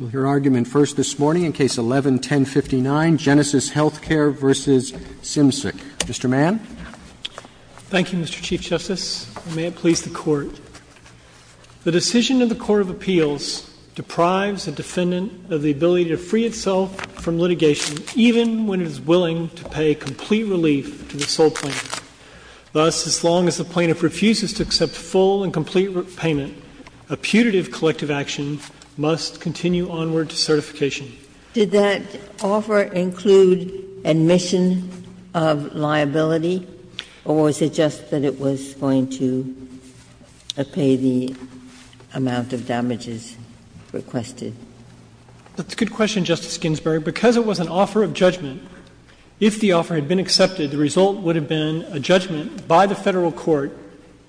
Your argument first this morning in Case 11-1059, Genesys HealthCare v. Symczyk. Mr. Mann. Thank you, Mr. Chief Justice, and may it please the Court. The decision of the Court of Appeals deprives a defendant of the ability to free itself from litigation, even when it is willing to pay complete relief to the sole plaintiff. Thus, as long as the plaintiff refuses to accept full and complete repayment, a putative collective action must continue onward to certification. Did that offer include admission of liability, or was it just that it was going to pay the amount of damages requested? That's a good question, Justice Ginsburg. Because it was an offer of judgment, if the offer had been accepted, the result would have been a judgment by the Federal court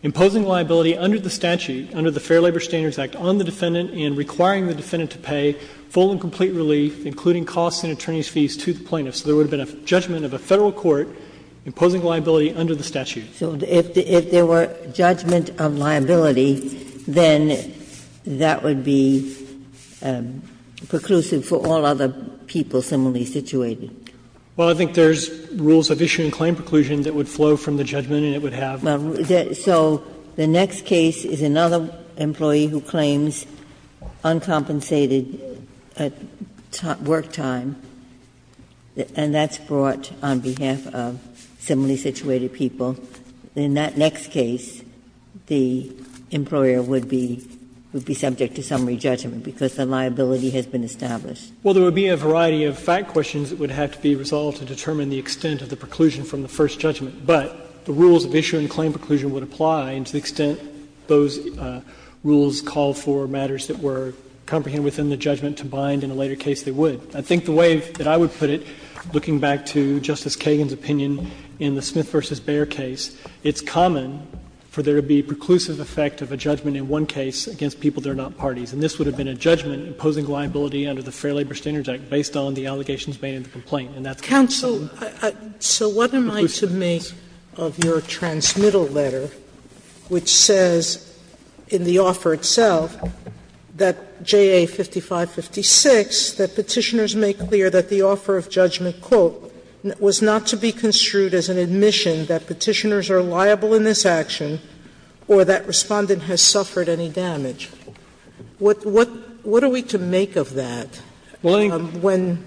imposing liability under the statute, under the Fair Labor Standards Act, on the defendant and requiring the defendant to pay full and complete relief, including costs and attorney's fees, to the plaintiff. So there would have been a judgment of a Federal court imposing liability under the statute. Ginsburg. So if there were judgment of liability, then that would be preclusive for all other people similarly situated? Well, I think there's rules of issue and claim preclusion that would flow from the judgment and it would have. So the next case is another employee who claims uncompensated work time, and that's brought on behalf of similarly situated people. In that next case, the employer would be subject to summary judgment because the liability has been established. Well, there would be a variety of fact questions that would have to be resolved to determine the extent of the preclusion from the first judgment. But the rules of issue and claim preclusion would apply to the extent those rules call for matters that were comprehended within the judgment to bind, in a later case they would. I think the way that I would put it, looking back to Justice Kagan's opinion in the Smith v. Bayer case, it's common for there to be preclusive effect of a judgment in one case against people that are not parties. And this would have been a judgment imposing liability under the Fair Labor Standards Act based on the allegations made in the complaint. And that's preclusive. Sotomayor, so what am I to make of your transmittal letter, which says in the offer itself, that JA 5556, that Petitioners make clear that the offer of judgment, quote, was not to be construed as an admission that Petitioners are liable in this action or that Respondent has suffered any damage? What are we to make of that when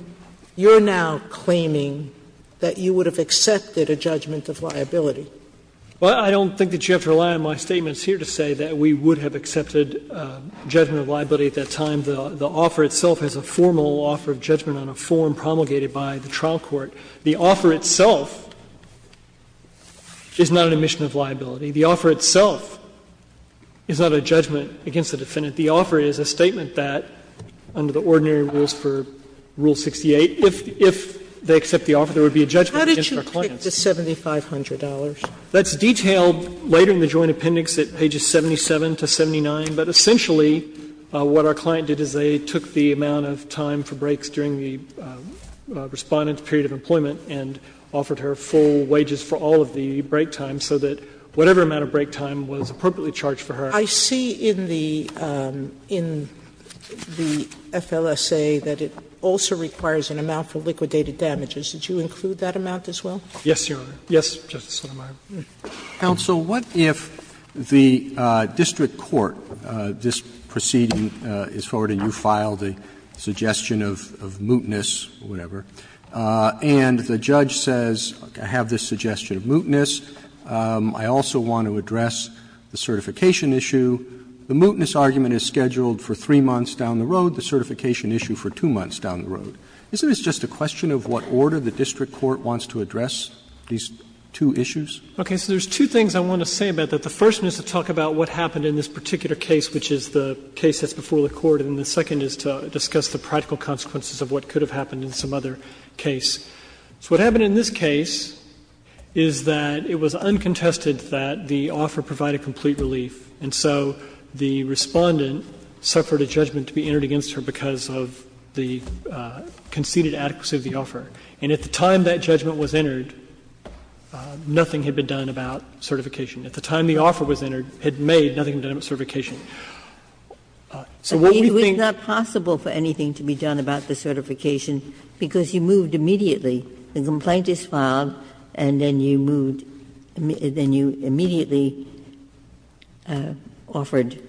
you're now claiming that you would have accepted a judgment of liability? Well, I don't think that you have to rely on my statements here to say that we would have accepted a judgment of liability at that time. The offer itself is a formal offer of judgment on a form promulgated by the trial court. The offer itself is not an admission of liability. The offer itself is not a judgment against the defendant. The offer is a statement that, under the ordinary rules for Rule 68, if they accept the offer, there would be a judgment against our clients. Sotomayor, what about the $7,500? That's detailed later in the Joint Appendix at pages 77 to 79, but essentially what our client did is they took the amount of time for breaks during the Respondent's period of employment and offered her full wages for all of the break time so that whatever amount of break time was appropriately charged for her. I see in the FLSA that it also requires an amount for liquidated damages. Did you include that amount as well? Yes, Your Honor. Yes, Justice Sotomayor. Counsel, what if the district court, this proceeding is forwarded, you file the suggestion of mootness, whatever, and the judge says, I have this suggestion of mootness. I also want to address the certification issue. The mootness argument is scheduled for 3 months down the road. The certification issue for 2 months down the road. Isn't this just a question of what order the district court wants to address these two issues? Okay. So there's two things I want to say about that. The first is to talk about what happened in this particular case, which is the case that's before the court, and the second is to discuss the practical consequences of what could have happened in some other case. So what happened in this case is that it was uncontested that the offer provided complete relief, and so the Respondent suffered a judgment to be entered against her because of the conceded adequacy of the offer. And at the time that judgment was entered, nothing had been done about certification. At the time the offer was entered, had made, nothing had been done about certification. So what we think was not possible for anything to be done about the certification because you moved immediately. The complaint is filed, and then you moved and then you immediately offered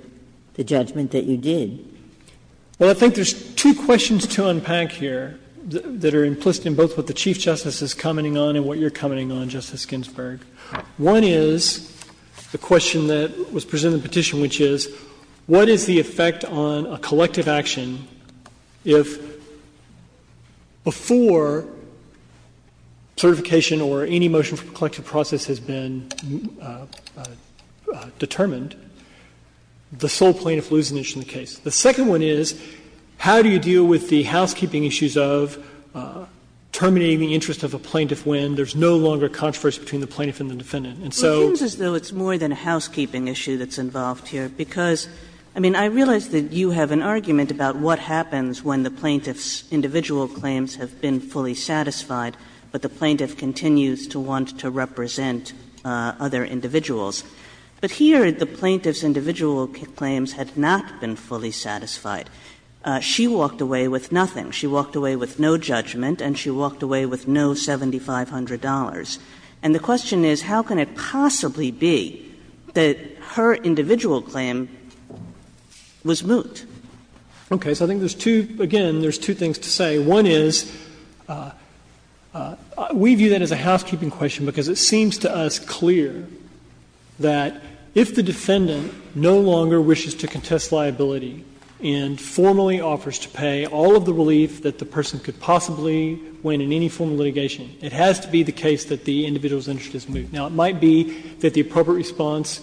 the judgment that you did. Well, I think there's two questions to unpack here that are implicit in both what the Chief Justice is commenting on and what you're commenting on, Justice Ginsburg. One is the question that was presented in the petition, which is, what is the effect on a collective action if, before certification or any motion for collective process has been determined, the sole plaintiff loses an inch in the case? The second one is, how do you deal with the housekeeping issues of terminating the interest of a plaintiff when there's no longer controversy between the plaintiff and the defendant? And so the plaintiff's individual claims have been fully satisfied, but the plaintiff continues to want to represent other individuals. But here, the plaintiff's individual claims had not been fully satisfied, but the plaintiff She walked away with nothing. She walked away with no judgment, and she walked away with no $7,500. And the question is, how can it possibly be that her individual claim was moot? Okay. So I think there's two – again, there's two things to say. One is, we view that as a housekeeping question because it seems to us clear that if the defendant no longer wishes to contest liability and formally offers to pay all of the relief that the person could possibly win in any form of litigation, it has to be the case that the individual's interest is moot. Now, it might be that the appropriate response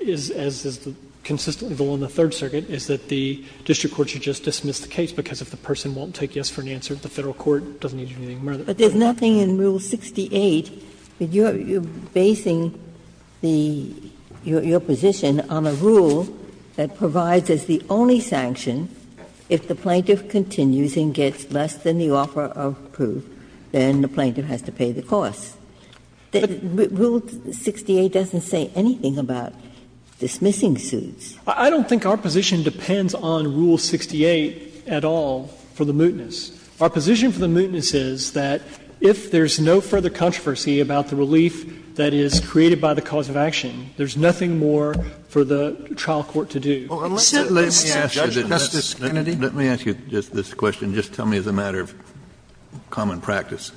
is, as is consistently the law in the Third Circuit, is that the district court should just dismiss the case because if the person won't take yes for an answer, the Federal court doesn't need to do anything more than that. Ginsburg. But there's nothing in Rule 68 that you're basing the – your position on a rule that provides as the only sanction if the plaintiff continues and gets less than the offer of proof, then the plaintiff has to pay the cost. Rule 68 doesn't say anything about dismissing suits. I don't think our position depends on Rule 68 at all for the mootness. Our position for the mootness is that if there's no further controversy about the relief that is created by the cause of action, there's nothing more for the trial court to do. Kennedy. Kennedy. Let me ask you just this question. Just tell me as a matter of common practice.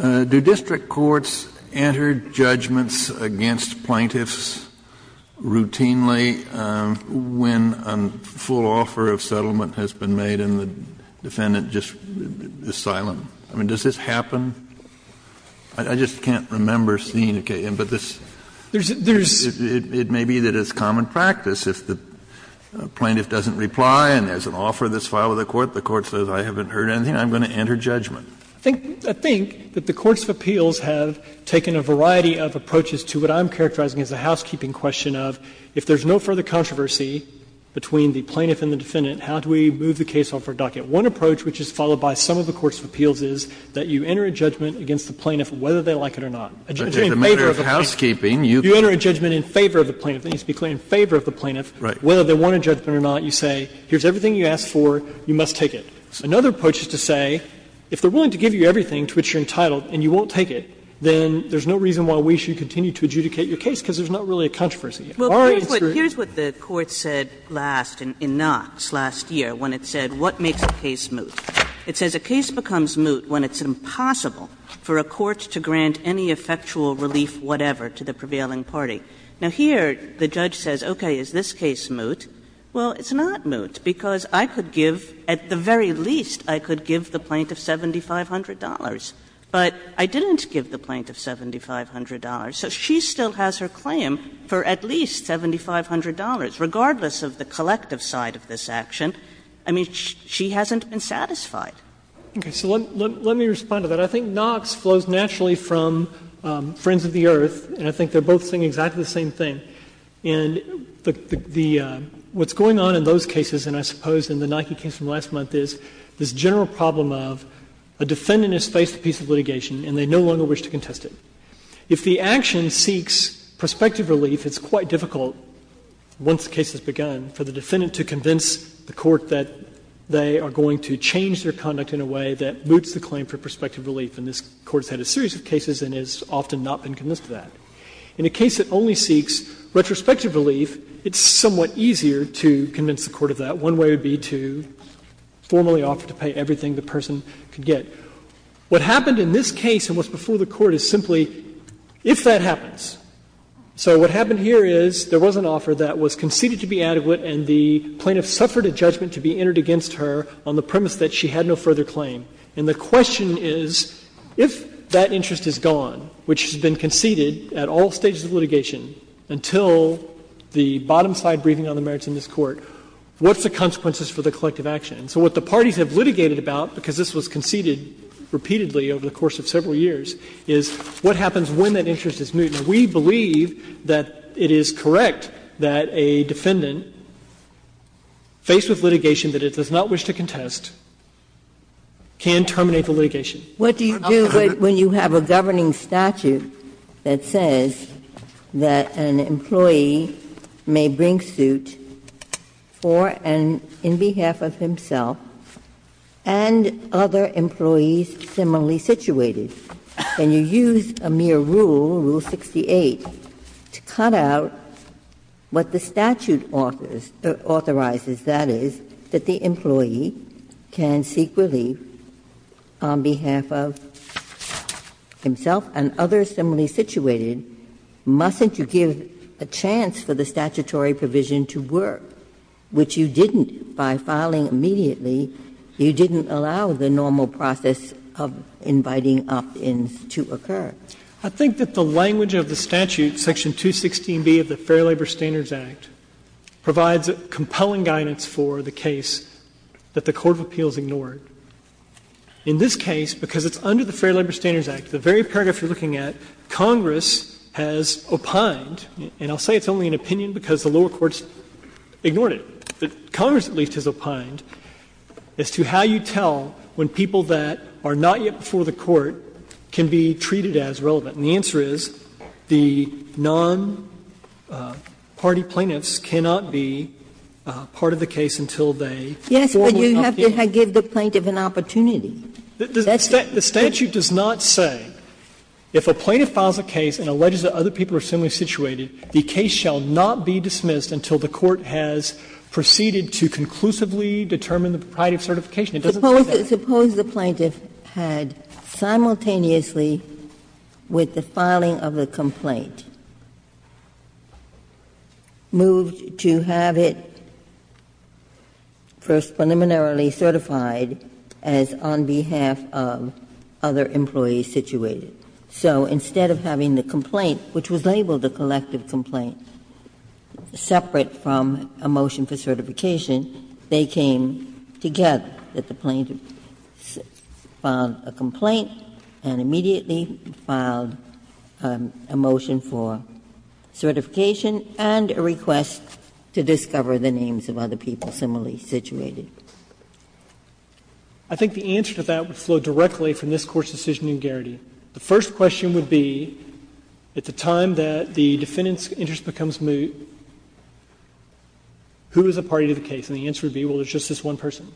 Do district courts enter judgments against plaintiffs routinely when a full offer of settlement has been made and the defendant just is silent? I mean, does this happen? I just can't remember seeing it, but this, it may be that it's common practice if the plaintiff doesn't reply and there's an offer that's filed with the court, the court says I haven't heard anything, I'm going to enter judgment. I think that the courts of appeals have taken a variety of approaches to what I'm characterizing as a housekeeping question of if there's no further controversy between the plaintiff and the defendant, how do we move the case off our docket? One approach, which is followed by some of the courts of appeals, is that you enter a judgment against the plaintiff whether they like it or not. A judgment in favor of the plaintiff. Kennedy. You enter a judgment in favor of the plaintiff. Let me just be clear, in favor of the plaintiff, whether they want a judgment or not, you say here's everything you asked for, you must take it. Another approach is to say if they're willing to give you everything to which you're entitled and you won't take it, then there's no reason why we should continue to adjudicate your case because there's not really a controversy. Kagan. Well, here's what the Court said last, in Knox, last year, when it said what makes a case moot. It says a case becomes moot when it's impossible for a court to grant any effectual relief whatever to the prevailing party. Now, here the judge says, okay, is this case moot? Well, it's not moot because I could give, at the very least, I could give the plaintiff $7,500. But I didn't give the plaintiff $7,500, so she still has her claim for at least $7,500. Regardless of the collective side of this action, I mean, she hasn't been satisfied. Okay. So let me respond to that. I think Knox flows naturally from Friends of the Earth, and I think they're both saying exactly the same thing. And the what's going on in those cases, and I suppose in the Nike case from last month, is this general problem of a defendant has faced a piece of litigation and they no longer wish to contest it. If the action seeks prospective relief, it's quite difficult, once the case has begun, for the defendant to convince the court that they are going to change their conduct in a way that moots the claim for prospective relief. And this Court has had a series of cases and has often not been convinced of that. In a case that only seeks retrospective relief, it's somewhat easier to convince the court of that. One way would be to formally offer to pay everything the person could get. What happened in this case and what's before the Court is simply, if that happens. So what happened here is there was an offer that was conceded to be adequate and the plaintiff suffered a judgment to be entered against her on the premise that she had no further claim. And the question is, if that interest is gone, which has been conceded at all stages of litigation until the bottom side briefing on the merits in this Court, what's the consequences for the collective action? So what the parties have litigated about, because this was conceded repeatedly over the course of several years, is what happens when that interest is moot. Now, we believe that it is correct that a defendant faced with litigation that it does not wish to contest can terminate the litigation. Ginsburg. What do you do when you have a governing statute that says that an employee may bring suit for and in behalf of himself and other employees similarly situated, and you use a mere rule, Rule 68, to cut out what the statute authorizes, that is, that the employee can seek relief on behalf of himself and others similarly situated, mustn't you give a chance for the statutory provision to work, which you didn't by filing immediately, you didn't allow the normal process of inviting opt-ins to occur? I think that the language of the statute, section 216b of the Fair Labor Standards Act, provides compelling guidance for the case that the court of appeals ignored. In this case, because it's under the Fair Labor Standards Act, the very paragraph you're looking at, Congress has opined, and I'll say it's only an opinion because the lower courts ignored it, but Congress at least has opined as to how you tell when people that are not yet before the court can be treated as relevant. And the answer is the non-party plaintiffs cannot be part of the case until they formally opt in. Ginsburg. Yes, but you have to give the plaintiff an opportunity. That's it. The statute does not say, if a plaintiff files a case and alleges that other people are similarly situated, the case shall not be dismissed until the court has proceeded to conclusively determine the propriety of certification. It doesn't say that. Suppose the plaintiff had simultaneously, with the filing of the complaint, moved to have it first preliminarily certified as on behalf of other employees situated. So instead of having the complaint, which was labeled a collective complaint, separate from a motion for certification, they came together. That the plaintiff filed a complaint and immediately filed a motion for certification and a request to discover the names of other people similarly situated. I think the answer to that would flow directly from this Court's decision in Garrity. The first question would be, at the time that the defendant's interest becomes moot, who is a party to the case? And the answer would be, well, it's just this one person.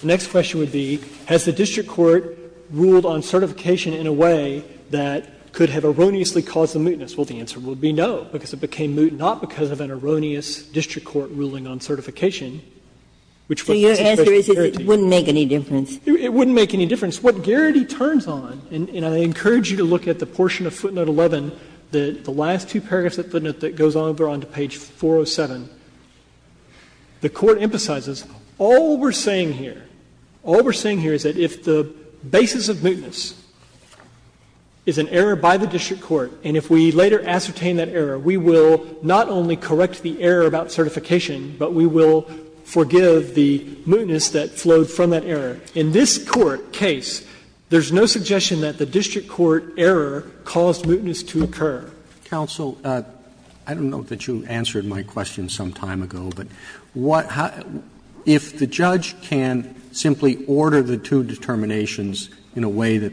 The next question would be, has the district court ruled on certification in a way that could have erroneously caused the mootness? Well, the answer would be no, because it became moot not because of an erroneous district court ruling on certification, which was the first question. Ginsburg. Ginsburg. So your answer is that it wouldn't make any difference? It wouldn't make any difference. What Garrity turns on, and I encourage you to look at the portion of footnote 11, the last two paragraphs of the footnote that goes on, they're on page 407. The Court emphasizes all we're saying here, all we're saying here is that if the basis of mootness is an error by the district court, and if we later ascertain that error, we will not only correct the error about certification, but we will forgive the mootness that flowed from that error. In this Court case, there's no suggestion that the district court error caused mootness to occur. Roberts. I don't know that you answered my question some time ago, but if the judge can simply order the two determinations in a way that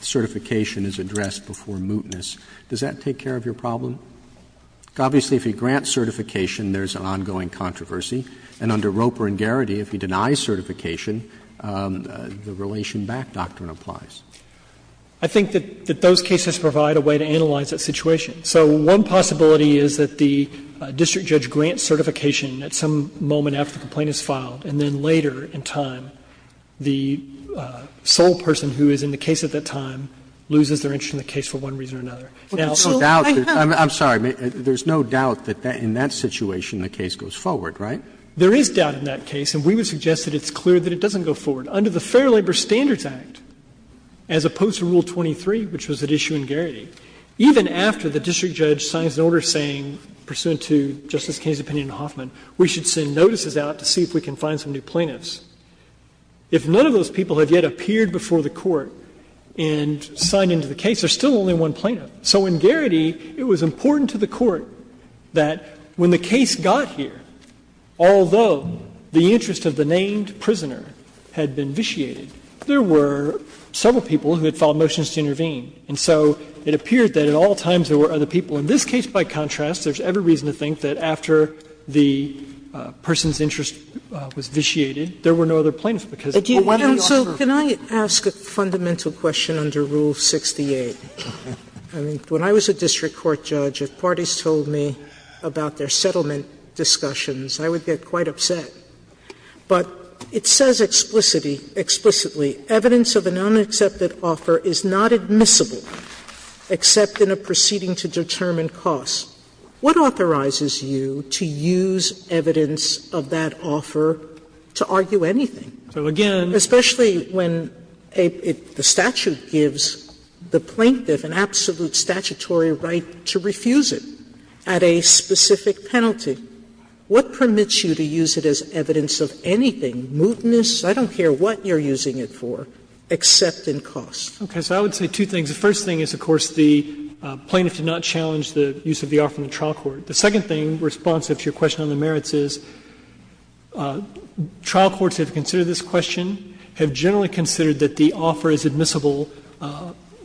certification is addressed before mootness, does that take care of your problem? Obviously, if he grants certification, there's an ongoing controversy. And under Roper and Garrity, if he denies certification, the relation back doctrine applies. I think that those cases provide a way to analyze that situation. So one possibility is that the district judge grants certification at some moment after the complaint is filed, and then later in time, the sole person who is in the case at that time loses their interest in the case for one reason or another. Now, there's no doubt that in that situation the case goes forward, right? There is doubt in that case, and we would suggest that it's clear that it doesn't go forward. Under the Fair Labor Standards Act, as opposed to Rule 23, which was at issue in Garrity, even after the district judge signs an order saying, pursuant to Justice Kennedy's opinion in Hoffman, we should send notices out to see if we can find some new plaintiffs, if none of those people have yet appeared before the Court and signed into the case, there's still only one plaintiff. So in Garrity, it was important to the Court that when the case got here, although the interest of the named prisoner had been vitiated, there were several people who had filed motions to intervene. And so it appeared that at all times there were other people. In this case, by contrast, there's every reason to think that after the person's interest was vitiated, there were no other plaintiffs, because why do we offer? Sotomayor, so can I ask a fundamental question under Rule 68? I mean, when I was a district court judge, if parties told me about their settlement discussions, I would get quite upset. But it says explicitly, evidence of an unaccepted offer is not admissible except in a proceeding to determine costs. What authorizes you to use evidence of that offer to argue anything? Especially when the statute gives the plaintiff an absolute statutory right to refuse it at a specific penalty. What permits you to use it as evidence of anything, mootness, I don't care what you're using it for, except in costs? Okay. So I would say two things. The first thing is, of course, the plaintiff did not challenge the use of the offer in the trial court. The second thing, responsive to your question on the merits, is trial courts have considered this question, have generally considered that the offer is admissible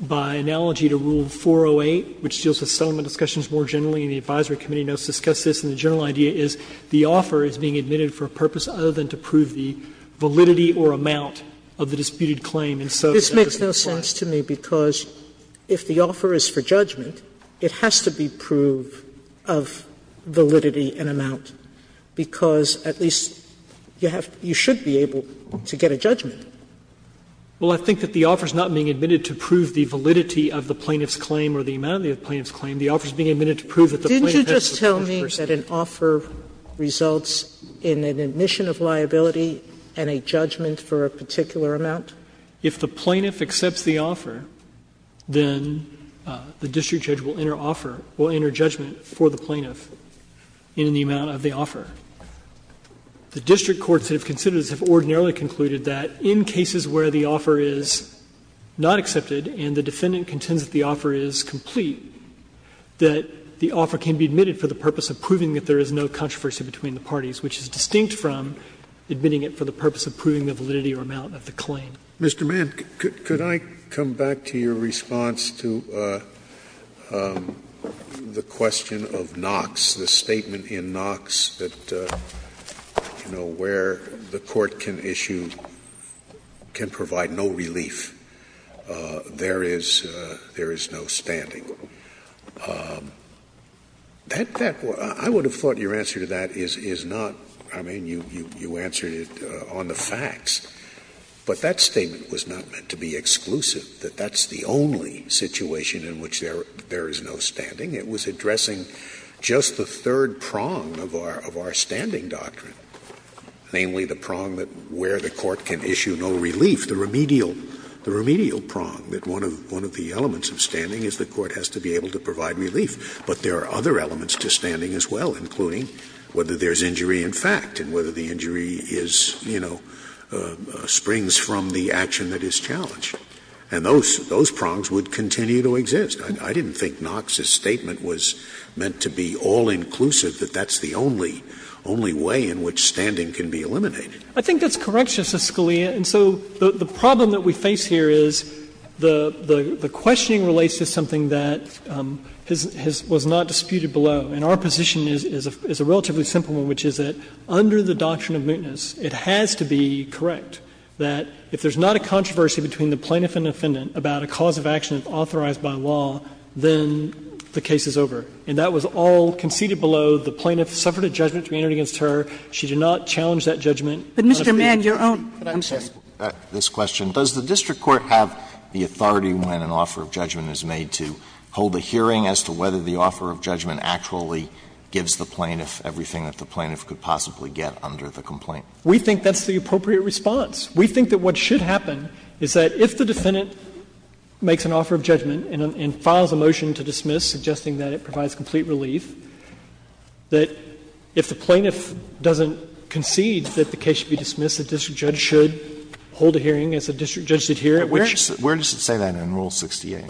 by analogy to Rule 408, which deals with settlement discussions more generally, and the advisory committee notes discuss this. And the general idea is the offer is being admitted for a purpose other than to prove the validity or amount of the disputed claim. And so this makes no sense to me, because if the offer is for judgment, it has to be proved of validity and amount, because at least you have to be able to get a judgment. Well, I think that the offer is not being admitted to prove the validity of the plaintiff's claim or the amount of the plaintiff's claim. The offer is being admitted to prove that the plaintiff has a particular perspective. Didn't you just tell me that an offer results in an admission of liability and a judgment for a particular amount? If the plaintiff accepts the offer, then the district judge will enter offer or enter judgment for the plaintiff in the amount of the offer. The district courts have considered, as have ordinarily concluded, that in cases where the offer is not accepted and the defendant contends that the offer is complete, that the offer can be admitted for the purpose of proving that there is no controversy between the parties, which is distinct from admitting it for the purpose of proving the validity or amount of the claim. Mr. Mann, could I come back to your response to the question of Knox, the statement in Knox that, you know, where the court can issue, can provide no relief, there is no standing. That was – I would have thought your answer to that is not – I mean, you answered it on the facts, but that statement was not meant to be exclusive, that that's the only situation in which there is no standing. It was addressing just the third prong of our standing doctrine, namely, the prong that where the court can issue no relief, the remedial – the remedial prong, that one of the elements of standing is the court has to be able to provide relief. But there are other elements to standing as well, including whether there's injury in fact, and whether the injury is, you know, springs from the action that is challenged. And those – those prongs would continue to exist. I didn't think Knox's statement was meant to be all-inclusive, that that's the only – only way in which standing can be eliminated. I think that's correct, Justice Scalia. And so the problem that we face here is the questioning relates to something that has – was not disputed below. And our position is a relatively simple one, which is that under the doctrine of mootness, it has to be correct that if there's not a controversy between the plaintiff and the defendant about a cause of action authorized by law, then the case is over. And that was all conceded below. The plaintiff suffered a judgment to be entered against her. She did not challenge that judgment. But Mr. Mann, your own. I'm sorry. Alito, this question, does the district court have the authority when an offer of judgment is made to hold a hearing as to whether the offer of judgment actually gives the plaintiff everything that the plaintiff could possibly get under the complaint? We think that's the appropriate response. We think that what should happen is that if the defendant makes an offer of judgment and files a motion to dismiss, suggesting that it provides complete relief, that if the plaintiff doesn't concede that the case should be dismissed, the district judge should hold a hearing as the district judge did here. Where does it say that in Rule 68?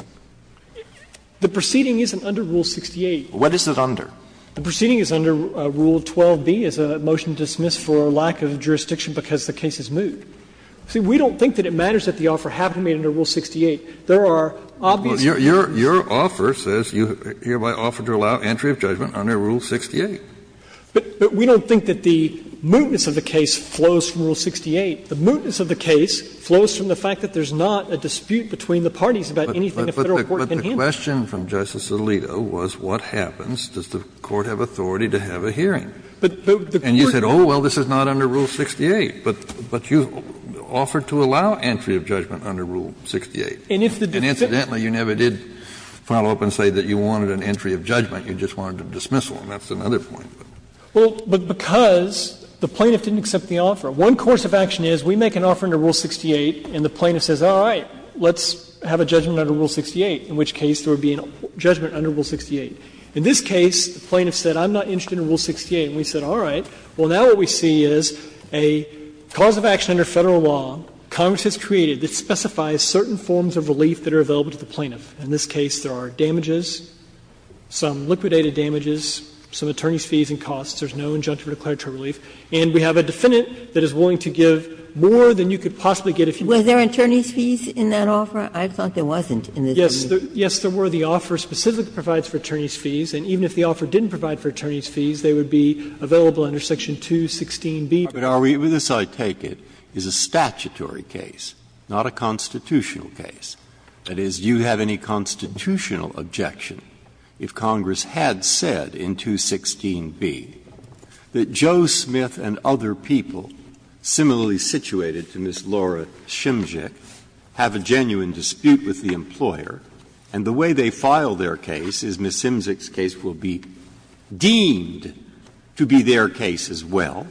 The proceeding isn't under Rule 68. What is it under? The proceeding is under Rule 12b as a motion to dismiss for lack of jurisdiction because the case is moot. See, we don't think that it matters that the offer happened to be under Rule 68. There are obvious reasons. Your offer says you hereby offer to allow entry of judgment under Rule 68. But we don't think that the mootness of the case flows from Rule 68. The mootness of the case flows from the fact that there's not a dispute between the parties about anything the Federal court can handle. Kennedy, but the question from Justice Alito was what happens? Does the Court have authority to have a hearing? And you said, oh, well, this is not under Rule 68. But you offered to allow entry of judgment under Rule 68. And incidentally, you never did follow up and say that you wanted an entry of judgment. You just wanted a dismissal, and that's another point. Well, but because the plaintiff didn't accept the offer. One course of action is we make an offer under Rule 68, and the plaintiff says, all right, let's have a judgment under Rule 68, in which case there would be a judgment under Rule 68. In this case, the plaintiff said, I'm not interested in Rule 68. And we said, all right. Well, now what we see is a cause of action under Federal law Congress has created that specifies certain forms of relief that are available to the plaintiff. In this case, there are damages, some liquidated damages, some attorney's fees and costs. There's no injunctive or declaratory relief. And we have a defendant that is willing to give more than you could possibly get if you wanted. Was there attorney's fees in that offer? I thought there wasn't in this case. Yes, there were. The offer specifically provides for attorney's fees, and even if the offer didn't provide for attorney's fees, they would be available under Section 216B. But are we to decide, take it, is a statutory case, not a constitutional case. That is, do you have any constitutional objection if Congress had said in 216B that Joe Smith and other people, similarly situated to Ms. Laura Shimczyk, have a genuine dispute with the employer, and the way they file their case is Ms. Shimczyk's case will be deemed to be their case as well,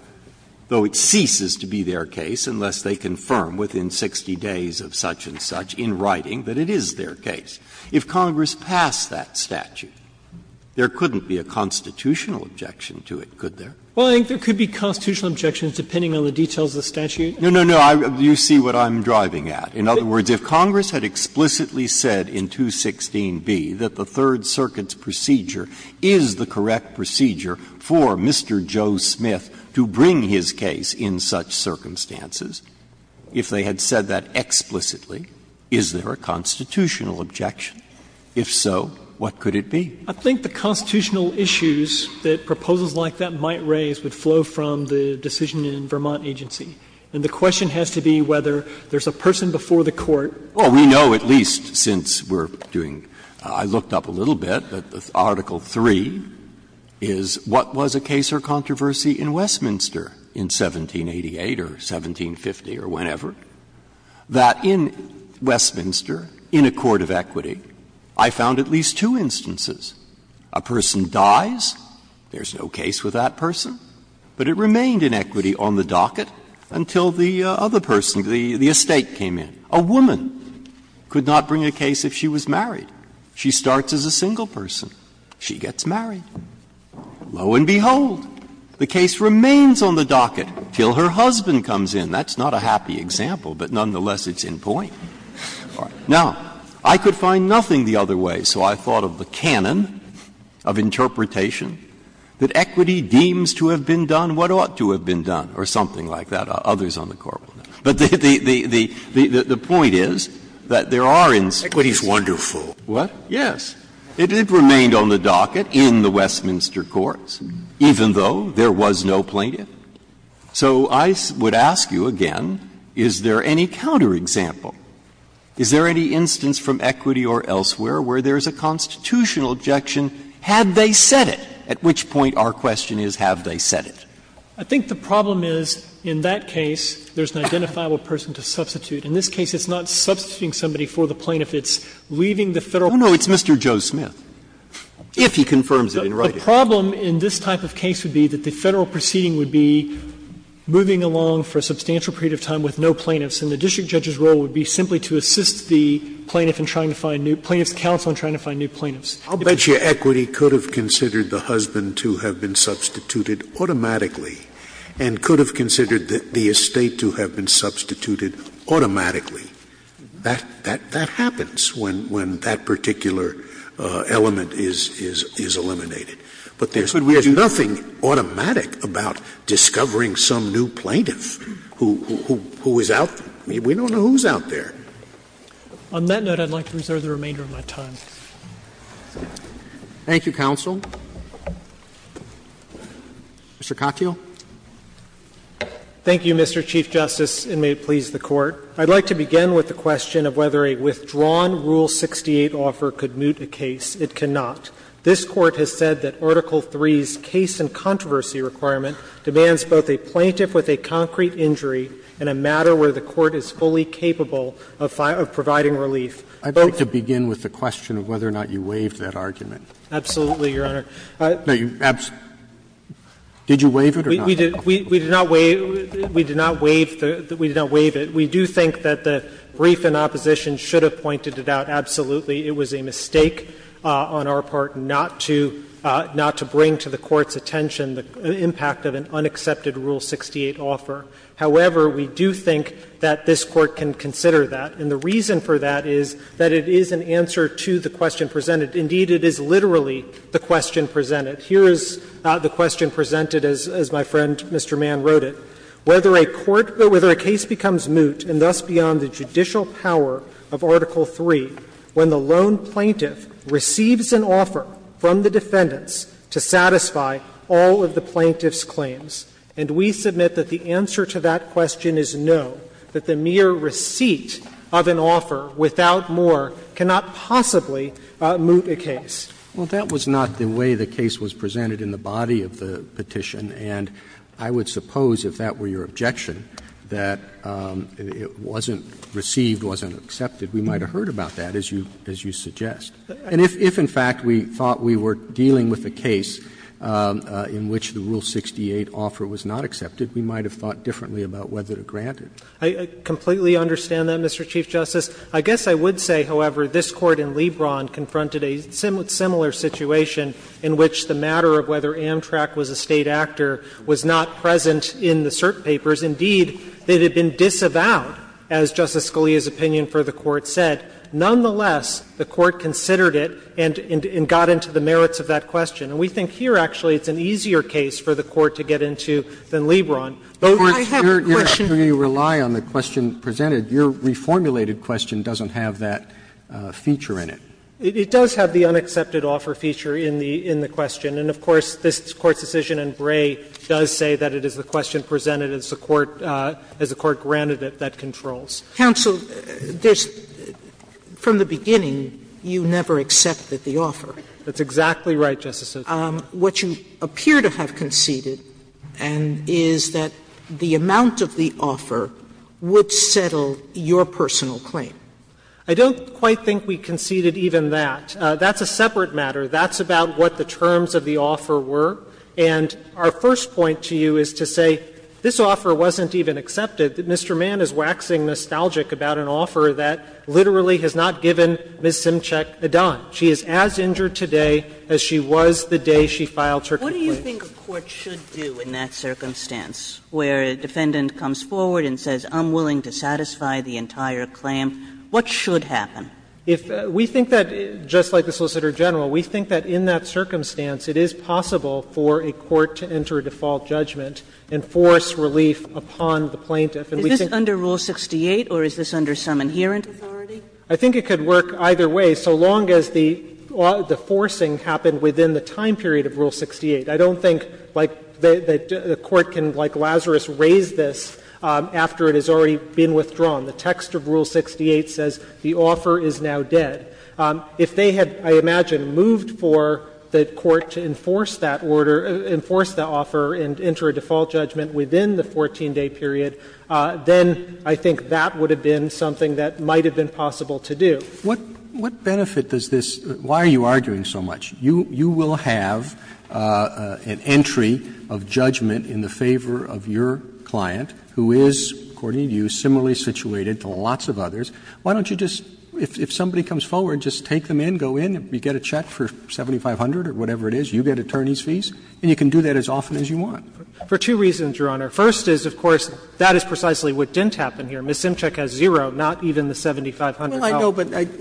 though it ceases to be their case unless they confirm within 60 days of such-and-such in writing that it is their case. If Congress passed that statute, there couldn't be a constitutional objection to it, could there? Well, I think there could be constitutional objections, depending on the details of the statute. No, no, no. You see what I'm driving at. In other words, if Congress had explicitly said in 216B that the Third Circuit's procedure is the correct procedure for Mr. Joe Smith to bring his case in such circumstances, if they had said that explicitly, is there a constitutional objection? If so, what could it be? I think the constitutional issues that proposals like that might raise would flow from the decision in Vermont agency. And the question has to be whether there's a person before the court. Well, we know at least since we're doing — I looked up a little bit, but Article III is what was a case or controversy in Westminster in 1788 or 1750 or whenever, that in Westminster, in a court of equity, I found at least two instances where a person dies, there's no case with that person, but it remained in equity on the docket until the other person, the estate, came in. A woman could not bring a case if she was married. She starts as a single person. She gets married. Lo and behold, the case remains on the docket until her husband comes in. That's not a happy example, but nonetheless, it's in point. Now, I could find nothing the other way, so I thought of the canon of interpretation that equity deems to have been done what ought to have been done or something like that. Others on the Court will know. But the point is that there are instances. Scalia's wonderful. What? Yes. It remained on the docket in the Westminster courts, even though there was no plaintiff. So I would ask you again, is there any counterexample? Is there any instance from equity or elsewhere where there is a constitutional objection, had they said it, at which point our question is, have they said it? I think the problem is, in that case, there's an identifiable person to substitute. In this case, it's not substituting somebody for the plaintiff. It's leaving the Federal Court. Oh, no, it's Mr. Joe Smith, if he confirms it in writing. The problem in this type of case would be that the Federal proceeding would be moving along for a substantial period of time with no plaintiffs, and the district judge's role would be simply to assist the plaintiff in trying to find new plaintiffs, counsel in trying to find new plaintiffs. I'll bet you equity could have considered the husband to have been substituted automatically and could have considered the estate to have been substituted automatically. That happens when that particular element is eliminated. But there's nothing automatic about discovering some new plaintiff who is out there. We don't know who's out there. On that note, I'd like to reserve the remainder of my time. Thank you, counsel. Mr. Katyal. Thank you, Mr. Chief Justice, and may it please the Court. I'd like to begin with the question of whether a withdrawn Rule 68 offer could moot a case. It cannot. This Court has said that Article III's case and controversy requirement demands both a plaintiff with a concrete injury and a matter where the Court is fully capable of providing relief. I'd like to begin with the question of whether or not you waived that argument. Absolutely, Your Honor. Did you waive it or not? We did not waive it. We do think that the brief in opposition should have pointed it out. Absolutely, it was a mistake on our part not to bring to the Court's attention the impact of an unaccepted Rule 68 offer. However, we do think that this Court can consider that. And the reason for that is that it is an answer to the question presented. Indeed, it is literally the question presented. Here is the question presented, as my friend Mr. Mann wrote it. Whether a case becomes moot and thus beyond the judicial power of Article III when the lone plaintiff receives an offer from the defendants to satisfy all of the plaintiff's claims. And we submit that the answer to that question is no, that the mere receipt of an offer without more cannot possibly moot a case. Well, that was not the way the case was presented in the body of the petition. And I would suppose, if that were your objection, that it wasn't received, wasn't accepted, we might have heard about that, as you suggest. And if, in fact, we thought we were dealing with a case in which the Rule 68 offer was not accepted, we might have thought differently about whether to grant it. I completely understand that, Mr. Chief Justice. I guess I would say, however, this Court in Lebron confronted a similar situation in which the matter of whether Amtrak was a State actor was not present in the cert papers. Indeed, it had been disavowed, as Justice Scalia's opinion for the Court said. Nonetheless, the Court considered it and got into the merits of that question. And we think here, actually, it's an easier case for the Court to get into than Lebron. Roberts, your question doesn't have that feature in it. It does have the unaccepted offer feature in the question. And, of course, this Court's decision in Bray does say that it is the question presented as the Court granted it that controls. Counsel, there's – from the beginning, you never accepted the offer. That's exactly right, Justice Sotomayor. What you appear to have conceded is that the amount of the offer would settle your personal claim. I don't quite think we conceded even that. That's a separate matter. That's about what the terms of the offer were. And our first point to you is to say this offer wasn't even accepted. Mr. Mann is waxing nostalgic about an offer that literally has not given Ms. Simchick a dime. She is as injured today as she was the day she filed her complaint. If a defendant comes forward and says, I'm willing to satisfy the entire claim, what should happen? If we think that, just like the Solicitor General, we think that in that circumstance it is possible for a court to enter a default judgment and force relief upon the plaintiff. Is this under Rule 68, or is this under some inherent authority? I think it could work either way, so long as the forcing happened within the time period of Rule 68. I don't think, like, the Court can, like Lazarus, raise this after it has already been withdrawn. The text of Rule 68 says the offer is now dead. If they had, I imagine, moved for the Court to enforce that order, enforce the offer and enter a default judgment within the 14-day period, then I think that would have been something that might have been possible to do. Roberts. What benefit does this — why are you arguing so much? You will have an entry of judgment in the favor of your client, who is, according to you, similarly situated to lots of others. Why don't you just — if somebody comes forward, just take them in, go in, you get a check for 7,500 or whatever it is, you get attorney's fees, and you can do that as often as you want. For two reasons, Your Honor. First is, of course, that is precisely what didn't happen here. Ms. Simchick has zero, not even the 7,500. Roberts Well, I know,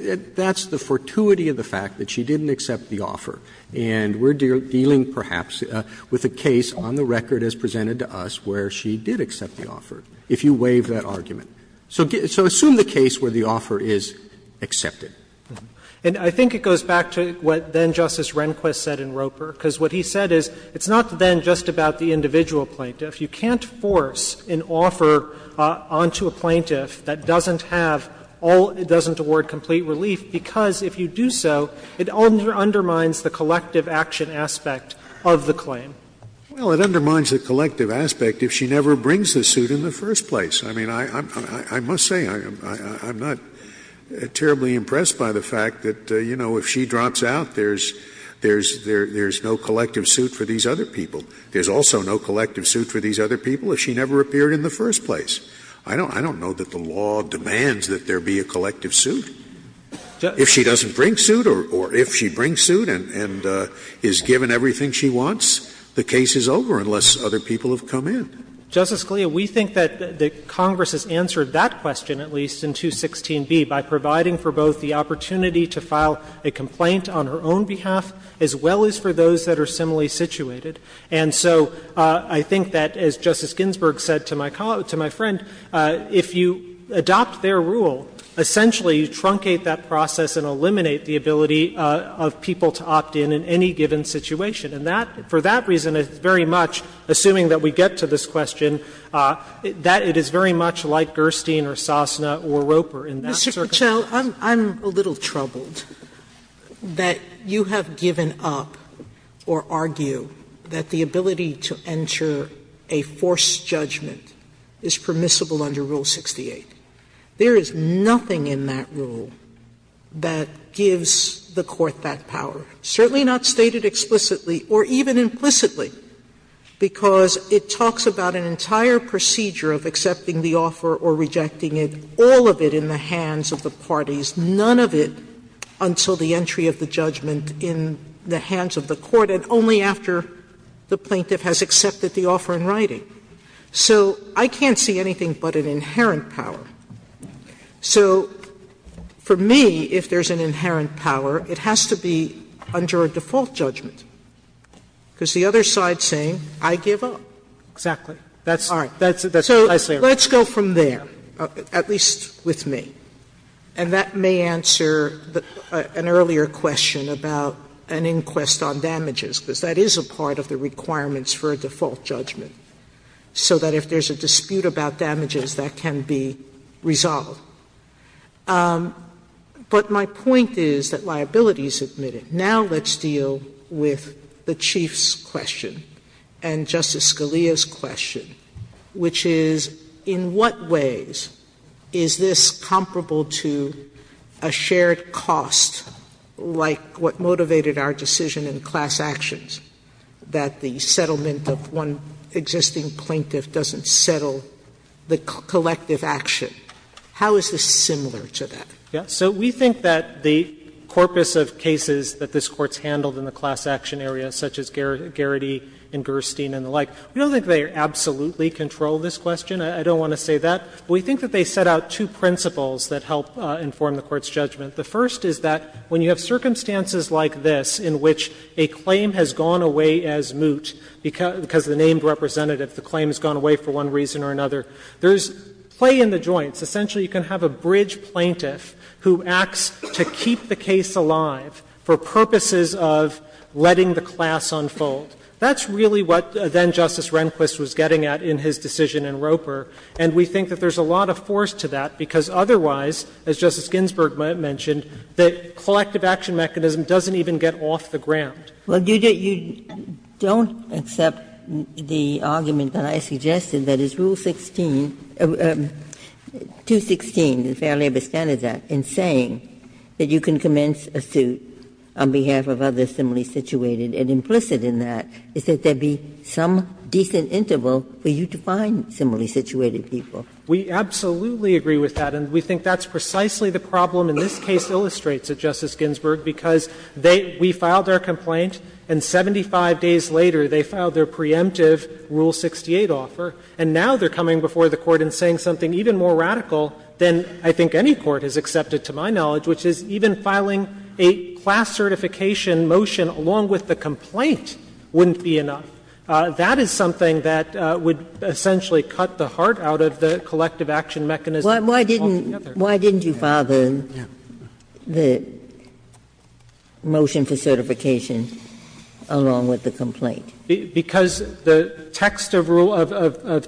but that's the fortuity of the fact that she didn't accept the offer. And we're dealing, perhaps, with a case on the record as presented to us where she did accept the offer, if you waive that argument. So assume the case where the offer is accepted. Katyalin. And I think it goes back to what then-Justice Rehnquist said in Roper, because what he said is it's not then just about the individual plaintiff. You can't force an offer onto a plaintiff that doesn't have all — doesn't award complete relief, because if you do so, it undermines the collective action aspect of the claim. Scalia Well, it undermines the collective aspect if she never brings the suit in the first place. I mean, I must say, I'm not terribly impressed by the fact that, you know, if she drops out, there's no collective suit for these other people. There's also no collective suit for these other people if she never appeared in the first place. I don't know that the law demands that there be a collective suit. If she doesn't bring suit or if she brings suit and is given everything she wants, the case is over unless other people have come in. Katyalin. Justice Scalia, we think that Congress has answered that question, at least, in 216b, by providing for both the opportunity to file a complaint on her own behalf as well as for those that are similarly situated. And so I think that, as Justice Ginsburg said to my friend, if you adopt their rule, essentially you truncate that process and eliminate the ability of people to opt in in any given situation. And that — for that reason, it's very much, assuming that we get to this question, that it is very much like Gerstein or Sosna or Roper in that circumstance. Sotomayor, I'm a little troubled that you have given up or argue that the ability to enter a forced judgment is permissible under Rule 68. There is nothing in that rule that gives the Court that power, certainly not stated explicitly or even implicitly, because it talks about an entire procedure of accepting the offer or rejecting it, all of it in the hands of the parties, none of it until the entry of the judgment in the hands of the Court, and only after the plaintiff has accepted the offer in writing. So I can't see anything but an inherent power. So for me, if there's an inherent power, it has to be under a default judgment, because the other side is saying, I give up. Exactly. That's the idea. Sotomayor, so let's go from there, at least with me, and that may answer an earlier question about an inquest on damages, because that is a part of the requirements for a default judgment, so that if there's a dispute about damages, that can be resolved. But my point is that liability is admitted. Now let's deal with the Chief's question and Justice Scalia's question, which is, in what ways is this comparable to a shared cost, like what motivated our decision in class actions, that the settlement of one existing plaintiff doesn't settle the collective action? How is this similar to that? So we think that the corpus of cases that this Court's handled in the class action area, such as Garrity and Gerstein and the like, we don't think they absolutely control this question. I don't want to say that. We think that they set out two principles that help inform the Court's judgment. The first is that when you have circumstances like this in which a claim has gone away as moot because the named representative, the claim has gone away for one reason or another, there's play in the joints. Essentially, you can have a bridge plaintiff who acts to keep the case alive for purposes of letting the class unfold. That's really what then-Justice Rehnquist was getting at in his decision in Roper. And we think that there's a lot of force to that, because otherwise, as Justice Ginsburg mentioned, the collective action mechanism doesn't even get off the ground. Ginsburg. Well, you don't accept the argument that I suggested, that is, Rule 16, 216, the Fair Labor Standards Act, in saying that you can commence a suit on behalf of others similarly situated. And implicit in that is that there be some decent interval for you to find similarly situated people. We absolutely agree with that, and we think that's precisely the problem in this case illustrates it, Justice Ginsburg, because they — we filed their complaint and 75 days later they filed their preemptive Rule 68 offer, and now they're coming before the Court and saying something even more radical than I think any court has accepted to my knowledge, which is even filing a class certification motion along with the complaint wouldn't be enough. That is something that would essentially cut the heart out of the collective action mechanism altogether. Ginsburg. Why didn't you file the motion for certification along with the complaint? Because the text of Rule of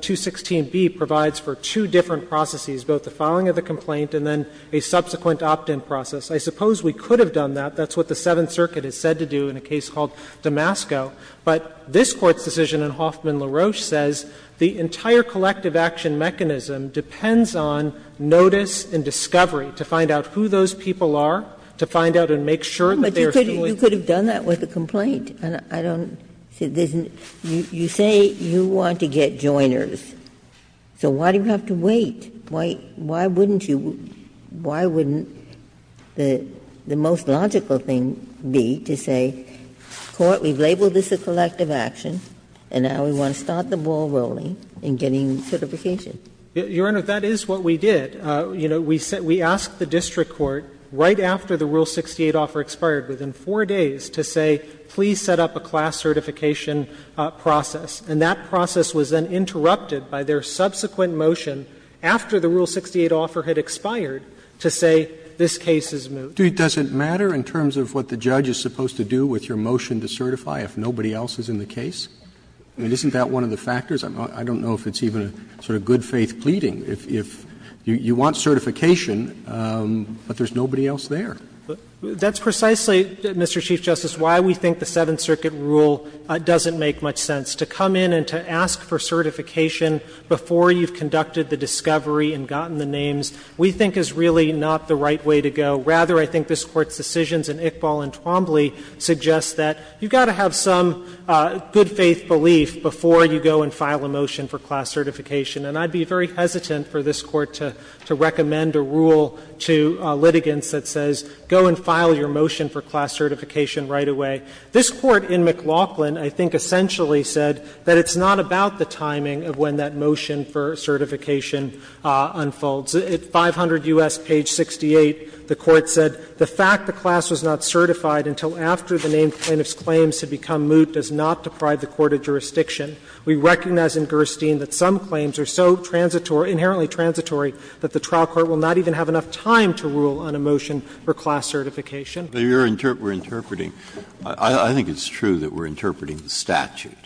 216b provides for two different processes, both the filing of the complaint and then a subsequent opt-in process. I suppose we could have done that. That's what the Seventh Circuit has said to do in a case called Damasco. But this Court's decision in Hoffman-LaRoche says the entire collective action mechanism depends on notice and discovery to find out who those people are, to find out and make sure that they are still in. But you could have done that with the complaint, and I don't see there's an — you say you want to get joiners, so why do you have to wait? Why wouldn't you — why wouldn't the most logical thing be to say, Court, we've labeled this a collective action, and now we want to start the ball rolling in getting certification? Your Honor, that is what we did. You know, we asked the district court, right after the Rule 68 offer expired, within 4 days, to say, please set up a class certification process. And that process was then interrupted by their subsequent motion, after the Rule 68 offer had expired, to say, this case is moved. Roberts, does it matter in terms of what the judge is supposed to do with your motion to certify if nobody else is in the case? I mean, isn't that one of the factors? I don't know if it's even a sort of good-faith pleading. If you want certification, but there's nobody else there. That's precisely, Mr. Chief Justice, why we think the Seventh Circuit rule doesn't make much sense. To come in and to ask for certification before you've conducted the discovery and gotten the names, we think is really not the right way to go. Rather, I think this Court's decisions in Iqbal and Twombly suggest that you've got to go and file a motion for class certification. And I'd be very hesitant for this Court to recommend a rule to litigants that says go and file your motion for class certification right away. This Court in McLaughlin, I think, essentially said that it's not about the timing of when that motion for certification unfolds. At 500 U.S. page 68, the Court said, The fact the class was not certified until after the named plaintiff's claims had become moot does not deprive the court of jurisdiction. We recognize in Gerstein that some claims are so transitory, inherently transitory, that the trial court will not even have enough time to rule on a motion for class certification. Breyer, we're interpreting the statute.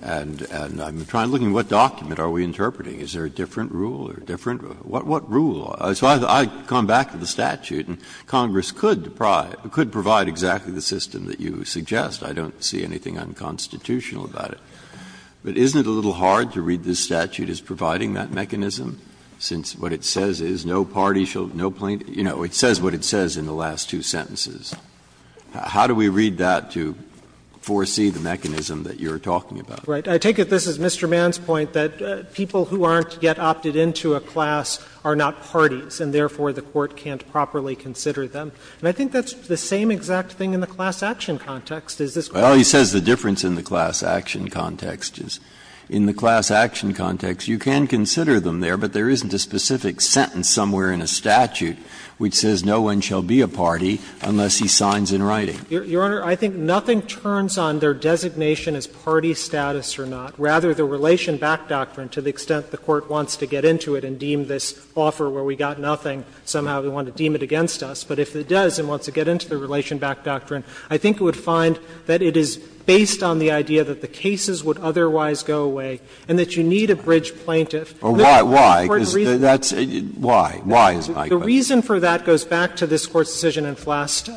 And I'm trying to look at what document are we interpreting. Is there a different rule or different? What rule? So I come back to the statute, and Congress could provide exactly the system that you suggest. I don't see anything unconstitutional about it. But isn't it a little hard to read this statute as providing that mechanism, since what it says is no party shall no plaintiff – you know, it says what it says in the last two sentences. How do we read that to foresee the mechanism that you're talking about? Right. I take it this is Mr. Mann's point, that people who aren't yet opted into a class are not parties, and therefore the court can't properly consider them. And I think that's the same exact thing in the class action context. Is this correct? Well, he says the difference in the class action context is, in the class action context, you can consider them there, but there isn't a specific sentence somewhere in a statute which says no one shall be a party unless he signs in writing. Your Honor, I think nothing turns on their designation as party status or not. Rather, the Relation Back Doctrine, to the extent the Court wants to get into it and deem this offer where we got nothing, somehow they want to deem it against us. But if it does and wants to get into the Relation Back Doctrine, I think it would be helpful to find that it is based on the idea that the cases would otherwise go away, and that you need a bridge plaintiff. And that's the important reason. Breyer, why, why is my question? The reason for that goes back to this Court's decision in Flast,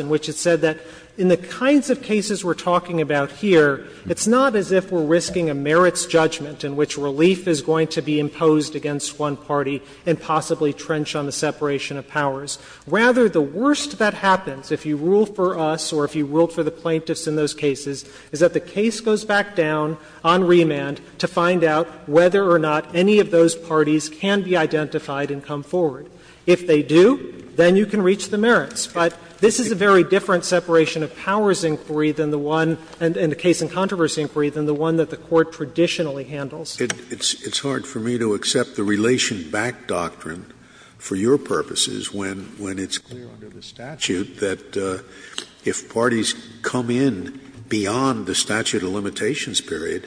in which it said that in the kinds of cases we're talking about here, it's not as if we're risking a merits judgment in which relief is going to be imposed against one party and possibly trench on the separation of powers. Rather, the worst that happens, if you rule for us or if you ruled for the plaintiffs in those cases, is that the case goes back down on remand to find out whether or not any of those parties can be identified and come forward. If they do, then you can reach the merits. But this is a very different separation of powers inquiry than the one — and a case in controversy inquiry than the one that the Court traditionally handles. Scalia, it's hard for me to accept the relation-back doctrine for your purposes when it's clear under the statute that if parties come in beyond the statute of limitations period,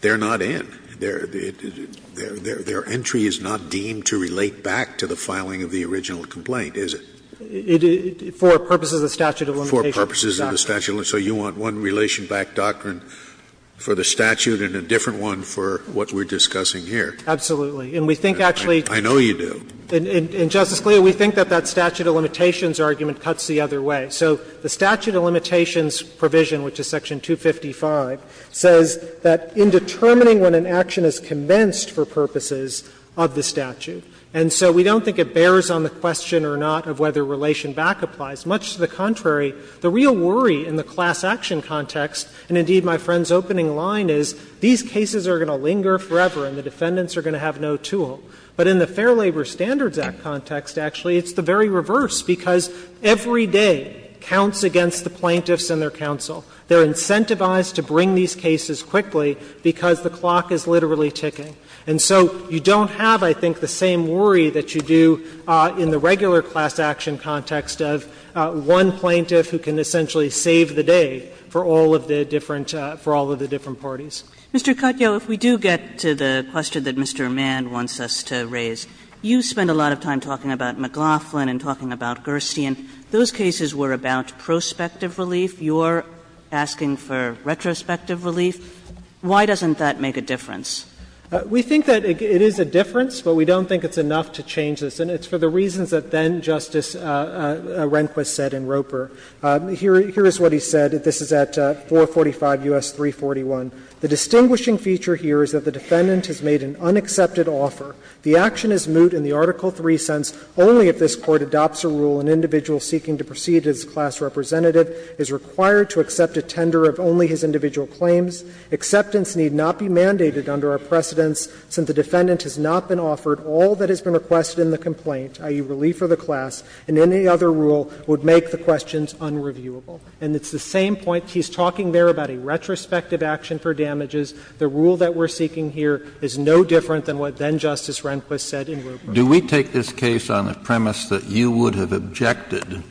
they're not in. Their entry is not deemed to relate back to the filing of the original complaint, is it? For purposes of the statute of limitations. For purposes of the statute of limitations. So you want one relation-back doctrine for the statute and a different one for what we're discussing here. Absolutely. And we think actually — I know you do. And, Justice Scalia, we think that that statute of limitations argument cuts the other way. So the statute of limitations provision, which is section 255, says that in determining when an action is commenced for purposes of the statute, and so we don't think it bears on the question or not of whether relation-back applies. Much to the contrary, the real worry in the class action context, and indeed my friend's opening line is, these cases are going to linger forever and the defendants are going to have no tool. But in the Fair Labor Standards Act context, actually, it's the very reverse, because every day counts against the plaintiffs and their counsel. They're incentivized to bring these cases quickly because the clock is literally ticking. And so you don't have, I think, the same worry that you do in the regular class action context of one plaintiff who can essentially save the day for all of the different — for all of the different parties. Kagan. Mr. Katyal, if we do get to the question that Mr. Mann wants us to raise, you spend a lot of time talking about McLaughlin and talking about Gerstein. Those cases were about prospective relief. You're asking for retrospective relief. Why doesn't that make a difference? We think that it is a difference, but we don't think it's enough to change this. And it's for the reasons that then-Justice Rehnquist said in Roper. Here is what he said. This is at 445 U.S. 341. The distinguishing feature here is that the defendant has made an unaccepted offer. The action is moot in the Article III sense only if this Court adopts a rule an individual seeking to proceed as a class representative is required to accept a tender of only his individual claims. Acceptance need not be mandated under our precedents, since the defendant has not been offered all that has been requested in the complaint, i.e., relief of the class, and any other rule would make the questions unreviewable. And it's the same point he's talking there about a retrospective action for damages. The rule that we're seeking here is no different than what then-Justice Rehnquist said in Roper. Kennedy, do we take this case on the premise that you would have objected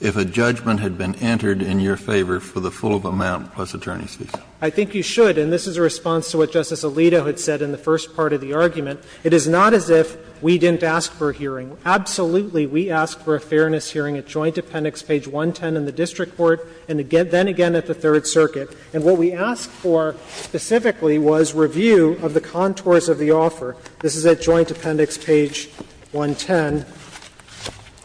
if a judgment had been entered in your favor for the full of amount plus attorney's visa? I think you should. And this is a response to what Justice Alito had said in the first part of the argument. It is not as if we didn't ask for a hearing. Absolutely, we asked for a fairness hearing at Joint Appendix page 110 in the district court and then again at the Third Circuit. And what we asked for specifically was review of the contours of the offer. This is at Joint Appendix page 110.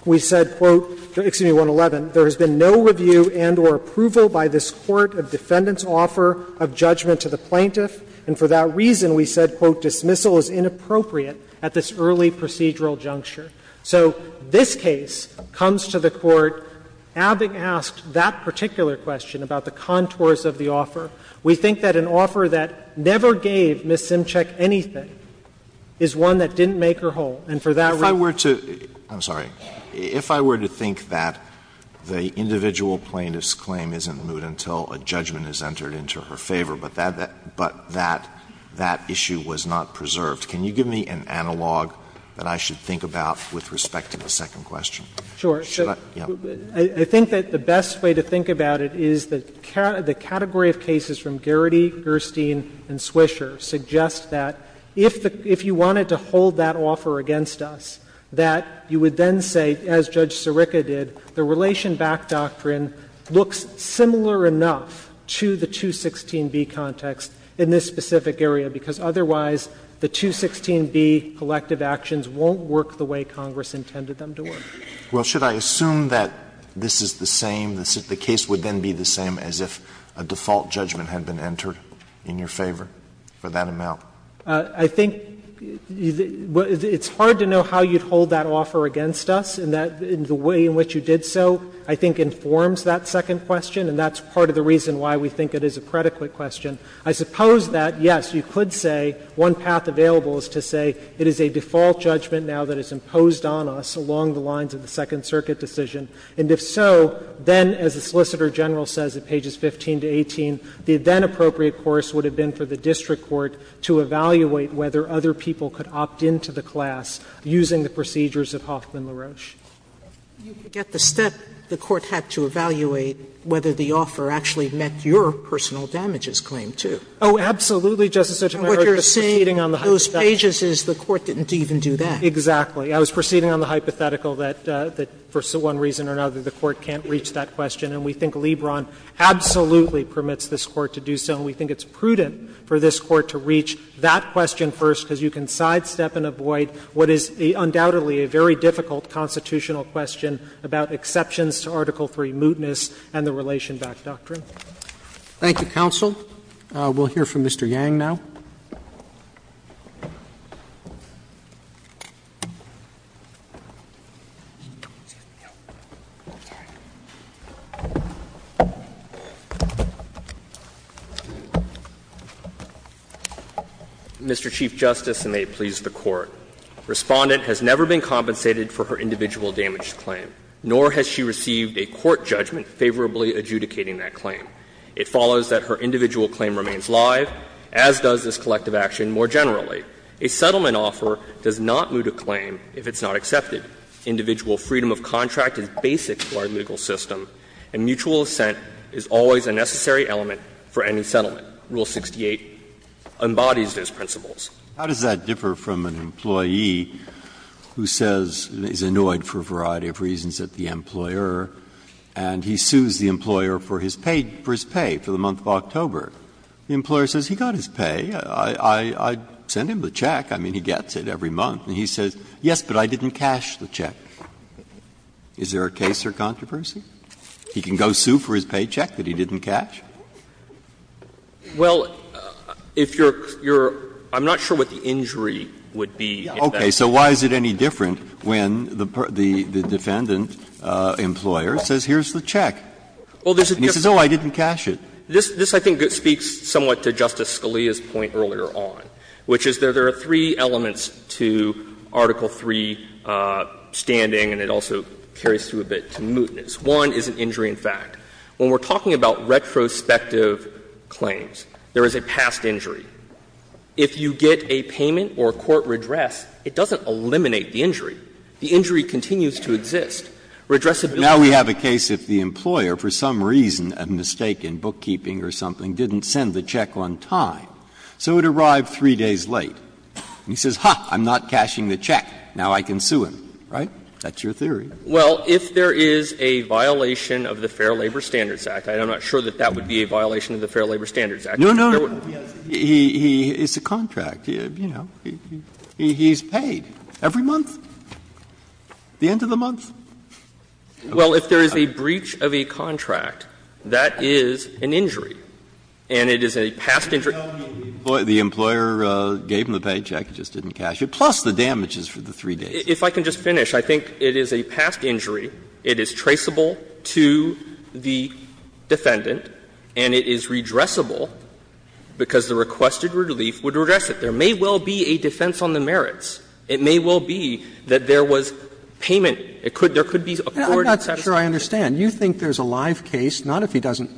We said, quote --"Excuse me, 111. There has been no review and or approval by this Court of defendants' offer of judgment to the plaintiff. And for that reason, we said, quote, "'Dismissal' is inappropriate at this early procedural juncture.'" So this case comes to the Court. Abbott asked that particular question about the contours of the offer. We think that an offer that never gave Ms. Simchick anything is one that didn't make her whole. And for that reason we think that the plaintiff's claim isn't moved until a judgment is entered into her favor, but that issue was not preserved. Can you give me an analog that I should think about with respect to the second question? Sure. Should I? Yeah. I think that the best way to think about it is the category of cases from Geraghty, Gerstein and Swisher suggest that if you wanted to hold that offer against us, that you would then say, as Judge Sirica did, the Relation Back doctrine looks similar enough to the 216B context in this specific area, because otherwise the 216B collective actions won't work the way Congress intended them to work. Well, should I assume that this is the same, the case would then be the same as if a default judgment had been entered in your favor for that amount? I think it's hard to know how you'd hold that offer against us, and the way in which you did so, I think, informs that second question, and that's part of the reason why we think it is a predicate question. I suppose that, yes, you could say, one path available is to say it is a default judgment now that is imposed on us along the lines of the Second Circuit decision, and if so, then, as the Solicitor General says at pages 15 to 18, the then-appropriate course would have been for the district court to evaluate whether other people could opt into the class using the procedures of Hoffman-LaRoche. Sotomayor, you forget the step the Court had to evaluate whether the offer actually met your personal damages claim, too. Oh, absolutely, Justice Sotomayor. And what you're saying on those pages is the Court didn't even do that. Exactly. I was proceeding on the hypothetical that for one reason or another the Court can't reach that question, and we think Lebron absolutely permits this Court to do so, and we think it's prudent for this Court to reach that question first, because you can question about exceptions to Article III mootness and the relation back doctrine. Thank you, counsel. We'll hear from Mr. Yang now. Mr. Chief Justice, and may it please the Court. Respondent has never been compensated for her individual damaged claim, nor has she received a court judgment favorably adjudicating that claim. It follows that her individual claim remains live, as does this collective action more generally. A settlement offer does not moot a claim if it's not accepted. Individual freedom of contract is basic to our legal system, and mutual assent is always a necessary element for any settlement. Rule 68 embodies those principles. Breyer, how does that differ from an employee who says he's annoyed for a variety of reasons at the employer, and he sues the employer for his pay, for his pay for the month of October? The employer says, he got his pay, I sent him the check, I mean, he gets it every month, and he says, yes, but I didn't cash the check. Is there a case or controversy? He can go sue for his paycheck that he didn't cash? Well, if you're – I'm not sure what the injury would be in that case. Okay. So why is it any different when the defendant, employer, says, here's the check? And he says, oh, I didn't cash it. This, I think, speaks somewhat to Justice Scalia's point earlier on, which is there are three elements to Article III standing, and it also carries through a bit to mootness. One is an injury in fact. When we're talking about retrospective claims, there is a past injury. If you get a payment or a court redress, it doesn't eliminate the injury. The injury continues to exist. Redressability. Now we have a case if the employer, for some reason, a mistake in bookkeeping or something, didn't send the check on time, so it arrived three days late. And he says, ha, I'm not cashing the check. Now I can sue him. Right? That's your theory. Well, if there is a violation of the Fair Labor Standards Act, and I'm not sure that that would be a violation of the Fair Labor Standards Act. No, no, no. He's a contract. You know, he's paid every month, the end of the month. Well, if there is a breach of a contract, that is an injury. And it is a past injury. The employer gave him the paycheck, just didn't cash it, plus the damages for the three days. If I can just finish, I think it is a past injury, it is traceable to the defendant, and it is redressable because the requested relief would redress it. There may well be a defense on the merits. It may well be that there was payment. It could be accorded to the employer. Roberts. Roberts. I'm not sure I understand. You think there's a live case, not if he doesn't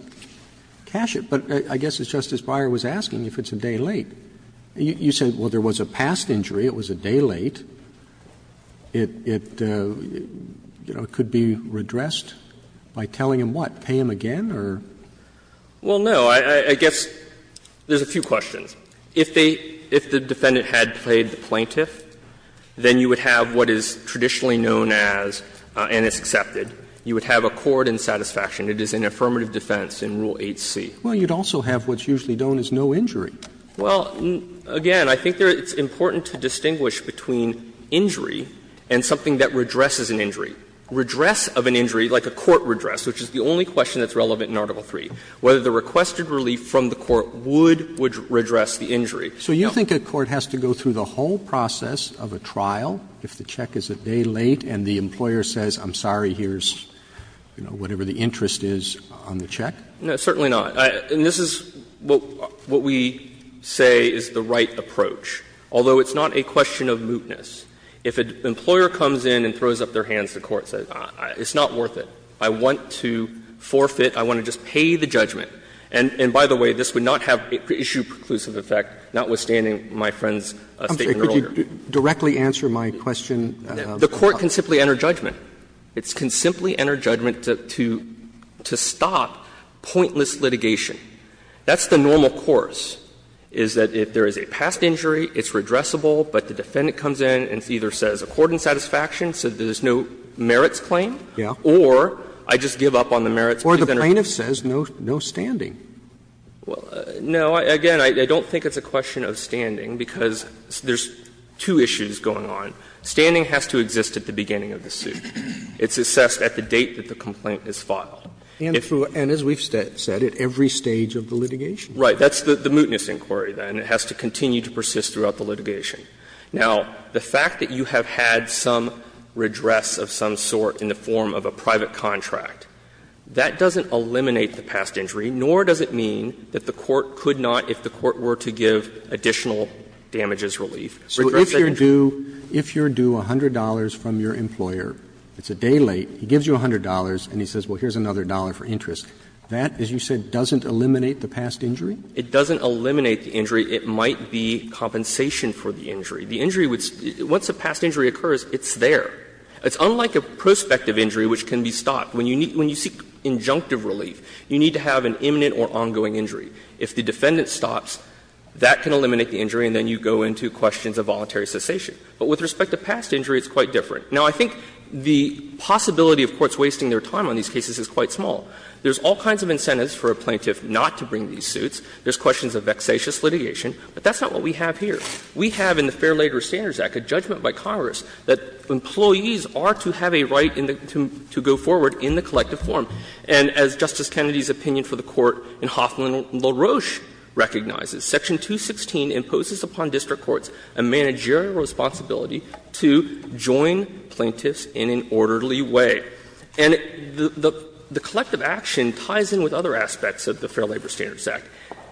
cash it, but I guess as Justice Breyer was asking, if it's a day late. You said, well, there was a past injury, it was a day late. It could be redressed by telling him what, pay him again, or? Well, no. I guess there's a few questions. If the defendant had paid the plaintiff, then you would have what is traditionally known as, and it's accepted, you would have accord and satisfaction. It is an affirmative defense in Rule 8c. Well, you'd also have what's usually known as no injury. Well, again, I think it's important to distinguish between injury and something that redresses an injury. Redress of an injury, like a court redress, which is the only question that's relevant in Article III. Whether the requested relief from the court would redress the injury. So you think a court has to go through the whole process of a trial if the check is a day late and the employer says, I'm sorry, here's, you know, whatever the interest is on the check? No, certainly not. And this is what we say is the right approach, although it's not a question of mootness. If an employer comes in and throws up their hands, the court says, it's not worth it. I want to forfeit. I want to just pay the judgment. And by the way, this would not have issue preclusive effect, notwithstanding my friend's statement earlier. Could you directly answer my question? The court can simply enter judgment. It can simply enter judgment to stop pointless litigation. That's the normal course, is that if there is a past injury, it's redressable, but the defendant comes in and either says, according to satisfaction, so there's no merits claim, or I just give up on the merits. Roberts. Or the plaintiff says no standing. Well, no. Again, I don't think it's a question of standing, because there's two issues going on. Standing has to exist at the beginning of the suit. It's assessed at the date that the complaint is filed. And as we've said, at every stage of the litigation. Right. That's the mootness inquiry, then. It has to continue to persist throughout the litigation. Now, the fact that you have had some redress of some sort in the form of a private contract, that doesn't eliminate the past injury, nor does it mean that the court could not, if the court were to give additional damages relief. So if you're due, if you're due $100 from your employer, it's a day late, he gives you $100, and he says, well, here's another dollar for interest, that, as you said, doesn't eliminate the past injury? It doesn't eliminate the injury. It might be compensation for the injury. The injury would be, once a past injury occurs, it's there. It's unlike a prospective injury, which can be stopped. When you seek injunctive relief, you need to have an imminent or ongoing injury. If the defendant stops, that can eliminate the injury, and then you go into questions of voluntary cessation. But with respect to past injury, it's quite different. Now, I think the possibility of courts wasting their time on these cases is quite small. There's all kinds of incentives for a plaintiff not to bring these suits. There's questions of vexatious litigation. But that's not what we have here. We have in the Fair Labor Standards Act a judgment by Congress that employees are to have a right to go forward in the collective form. And as Justice Kennedy's opinion for the Court in Hoffman v. LaRoche recognizes, Section 216 imposes upon district courts a managerial responsibility to join plaintiffs in an orderly way. And the collective action ties in with other aspects of the Fair Labor Standards Act.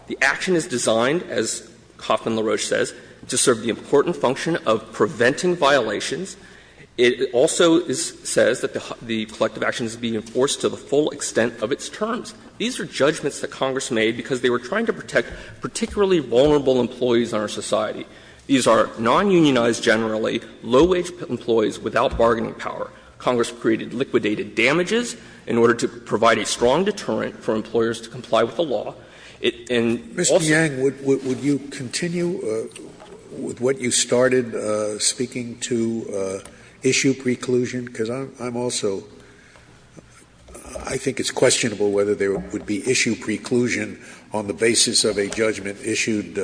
The action is designed, as Hoffman v. LaRoche says, to serve the important function of preventing violations. It also says that the collective action is being enforced to the full extent of its terms. These are judgments that Congress made because they were trying to protect particularly vulnerable employees in our society. These are nonunionized, generally, low-wage employees without bargaining power. Congress created liquidated damages in order to provide a strong deterrent for employers to comply with the law. And also- Scalia-Mr. Yang, would you continue with what you started speaking to issue preclusion? Because I'm also ‑‑ I think it's questionable whether there would be issue preclusion on the basis of a judgment issued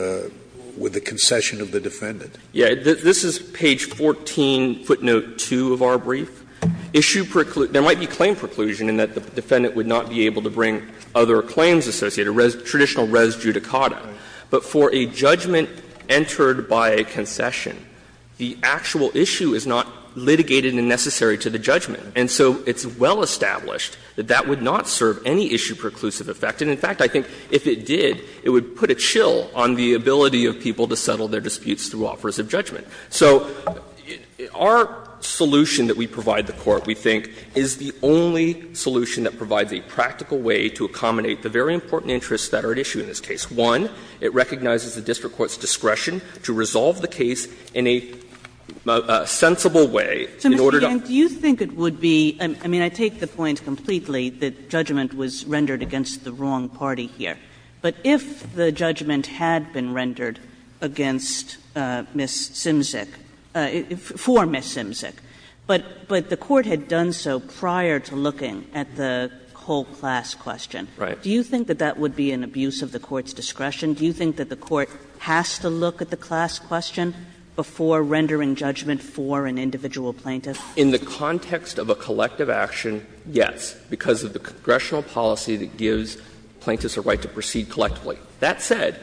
with the concession of the defendant. Yang, this is page 14, footnote 2 of our brief. Issue ‑‑ there might be claim preclusion in that the defendant would not be able to bring other claims associated, a traditional res judicata. But for a judgment entered by a concession, the actual issue is not litigated and necessary to the judgment. And so it's well established that that would not serve any issue preclusive effect. And in fact, I think if it did, it would put a chill on the ability of people to settle their disputes through offers of judgment. So our solution that we provide the Court, we think, is the only solution that provides a practical way to accommodate the very important interests that are at issue in this case. One, it recognizes the district court's discretion to resolve the case in a sensible way in order to- Kagan. Do you think it would be ‑‑ I mean, I take the point completely that judgment was rendered against the wrong party here. But if the judgment had been rendered against Ms. Simzik, for Ms. Simzik, but the Court had done so prior to looking at the whole class question, do you think that that would be an abuse of the Court's discretion? Do you think that the Court has to look at the class question before rendering judgment for an individual plaintiff? In the context of a collective action, yes, because of the congressional policy that gives plaintiffs a right to proceed collectively. That said,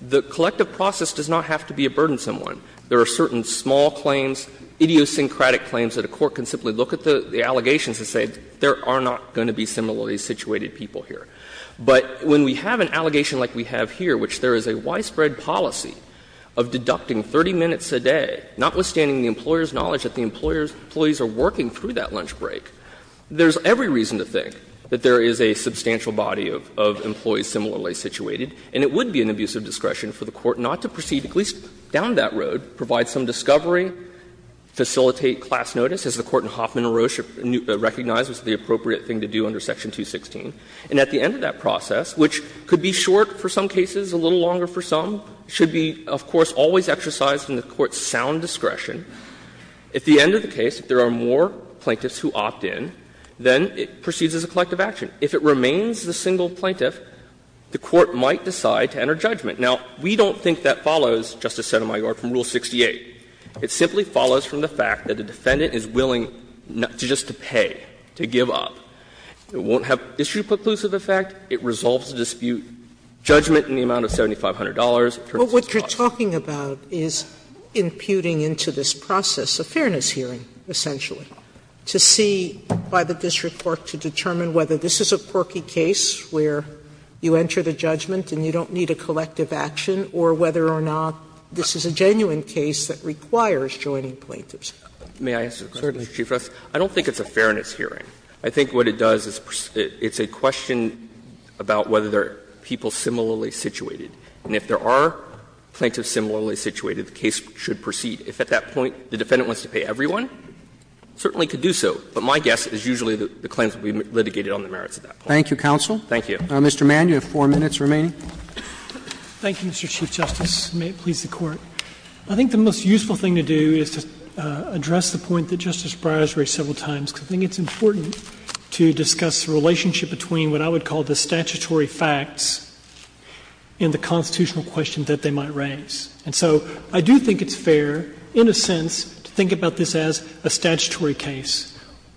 the collective process does not have to be a burdensome one. There are certain small claims, idiosyncratic claims that a court can simply look at the allegations and say there are not going to be similarly situated people here. But when we have an allegation like we have here, which there is a widespread policy of deducting 30 minutes a day, notwithstanding the employer's knowledge that the employees are working through that lunch break, there is every reason to think that there is a substantial body of employees similarly situated. And it would be an abuse of discretion for the Court not to proceed, at least down that road, provide some discovery, facilitate class notice, as the Court in Hoffman and Roche recognized was the appropriate thing to do under Section 216. And at the end of that process, which could be short for some cases, a little longer for some, should be, of course, always exercised in the Court's sound discretion. At the end of the case, if there are more plaintiffs who opt in, then it proceeds as a collective action. If it remains the single plaintiff, the Court might decide to enter judgment. Now, we don't think that follows, Justice Sotomayor, from Rule 68. It simply follows from the fact that a defendant is willing not just to pay, to give up. It won't have issue preclusive effect. It resolves the dispute, judgment in the amount of $7,500. Sotomayor, what you're talking about is imputing into this process a fairness hearing, essentially, to see by the district court to determine whether this is a quirky case where you enter the judgment and you don't need a collective action, or whether or not this is a genuine case that requires joining plaintiffs. May I answer a question, Mr. Chief Justice? I don't think it's a fairness hearing. I think what it does is it's a question about whether there are people similarly situated. And if there are plaintiffs similarly situated, the case should proceed. If at that point the defendant wants to pay everyone, certainly could do so. But my guess is usually the claims will be litigated on the merits of that point. Thank you, counsel. Thank you. Mr. Mann, you have 4 minutes remaining. Thank you, Mr. Chief Justice, and may it please the Court. I think the most useful thing to do is to address the point that Justice Breyer has raised several times, because I think it's important to discuss the relationship between what I would call the statutory facts and the constitutional questions that they might raise. And so I do think it's fair, in a sense, to think about this as a statutory case.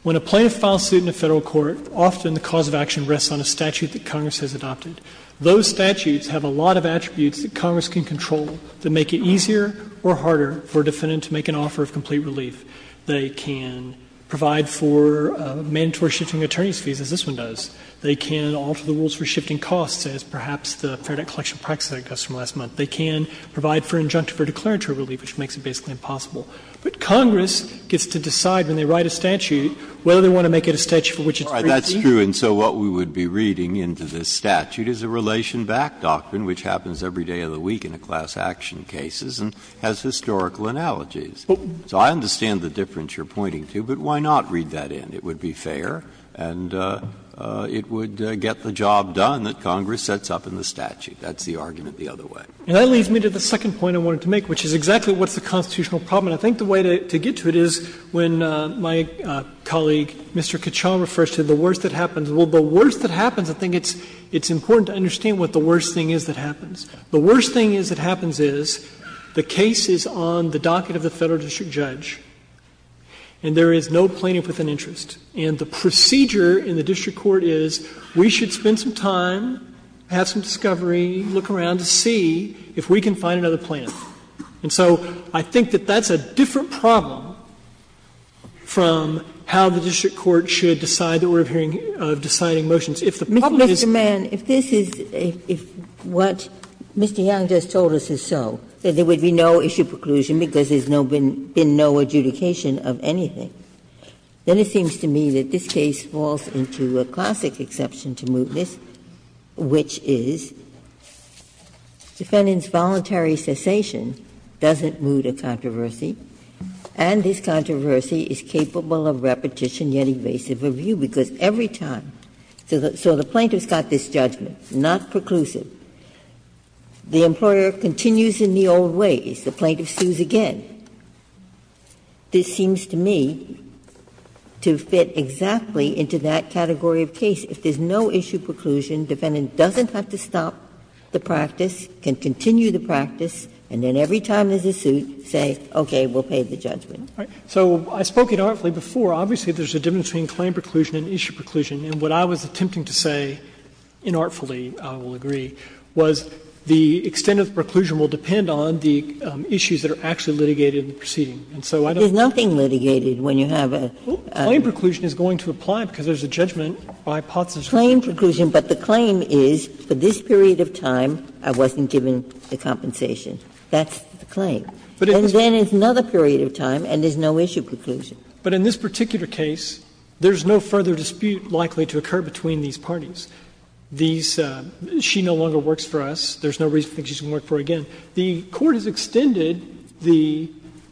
When a plaintiff files suit in a Federal court, often the cause of action rests on a statute that Congress has adopted. Those statutes have a lot of attributes that Congress can control that make it easier or harder for a defendant to make an offer of complete relief. They can provide for mandatory shifting of attorney's fees, as this one does. They can alter the rules for shifting costs, as perhaps the Fair Debt Collection practice that I discussed from last month. They can provide for injunctive or declaratory relief, which makes it basically impossible. But Congress gets to decide when they write a statute whether they want to make it a statute for which it's free to use. Breyer, that's true. And so what we would be reading into this statute is a relation-backed doctrine, which happens every day of the week in a class action case and has historical analogies. So I understand the difference you're pointing to, but why not read that in? It would be fair and it would get the job done that Congress sets up in the statute. That's the argument the other way. And that leads me to the second point I wanted to make, which is exactly what's the constitutional problem. And I think the way to get to it is when my colleague, Mr. Kachan, refers to the worst that happens. Well, the worst that happens, I think it's important to understand what the worst thing is that happens. The worst thing that happens is the case is on the docket of the Federal district judge and there is no plaintiff with an interest. And the procedure in the district court is we should spend some time, have some discovery, look around to see if we can find another plaintiff. And so I think that that's a different problem from how the district court should decide the order of hearing of deciding motions. If the problem is the plaintiff is not a plaintiff, it's a plaintiff who is not a plaintiff. Ginsburg's point, Mr. Young just told us it's so, that there would be no issue preclusion because there's been no adjudication of anything. Then it seems to me that this case falls into a classic exception to mootness, which is defendant's voluntary cessation doesn't moot a controversy, and this controversy is capable of repetition, yet evasive review, because every time the plaintiff has got this judgment, not preclusive, the employer continues in the old ways. The plaintiff sues again. This seems to me to fit exactly into that category of case. If there's no issue preclusion, defendant doesn't have to stop the practice, can continue the practice, and then every time there's a suit, say, okay, we'll pay the judgment. So I spoke it artfully before. Obviously, there's a difference between claim preclusion and issue preclusion. And what I was attempting to say, inartfully, I will agree, was the extent of preclusion will depend on the issues that are actually litigated in the proceeding. And so I don't think that's the case. Ginsburg's claim preclusion is going to apply because there's a judgment by POTS. Ginsburg's claim preclusion, but the claim is for this period of time I wasn't given the compensation. That's the claim. And then it's another period of time and there's no issue preclusion. But in this particular case, there's no further dispute likely to occur between these parties. These --"she no longer works for us, there's no reason to think she's going to work for us again." The Court has extended the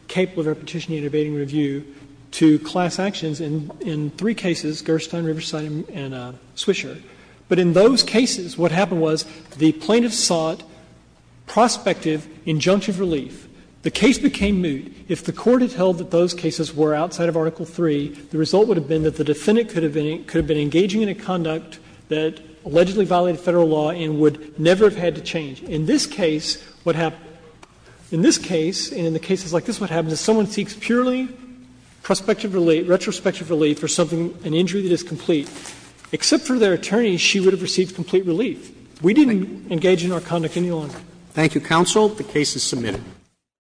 capable of repetition and abating review to class actions in three cases, Gerstlein, Riverside, and Swisher. But in those cases, what happened was the plaintiff sought prospective injunctive relief. The case became moot. If the Court had held that those cases were outside of Article III, the result would have been that the defendant could have been engaging in a conduct that allegedly violated Federal law and would never have had to change. In this case, what happened, in this case and in the cases like this, what happens is someone seeks purely prospective relief, retrospective relief for something, an injury that is complete. Except for their attorney, she would have received complete relief. We didn't engage in our conduct any longer. Roberts. Thank you, counsel. The case is submitted.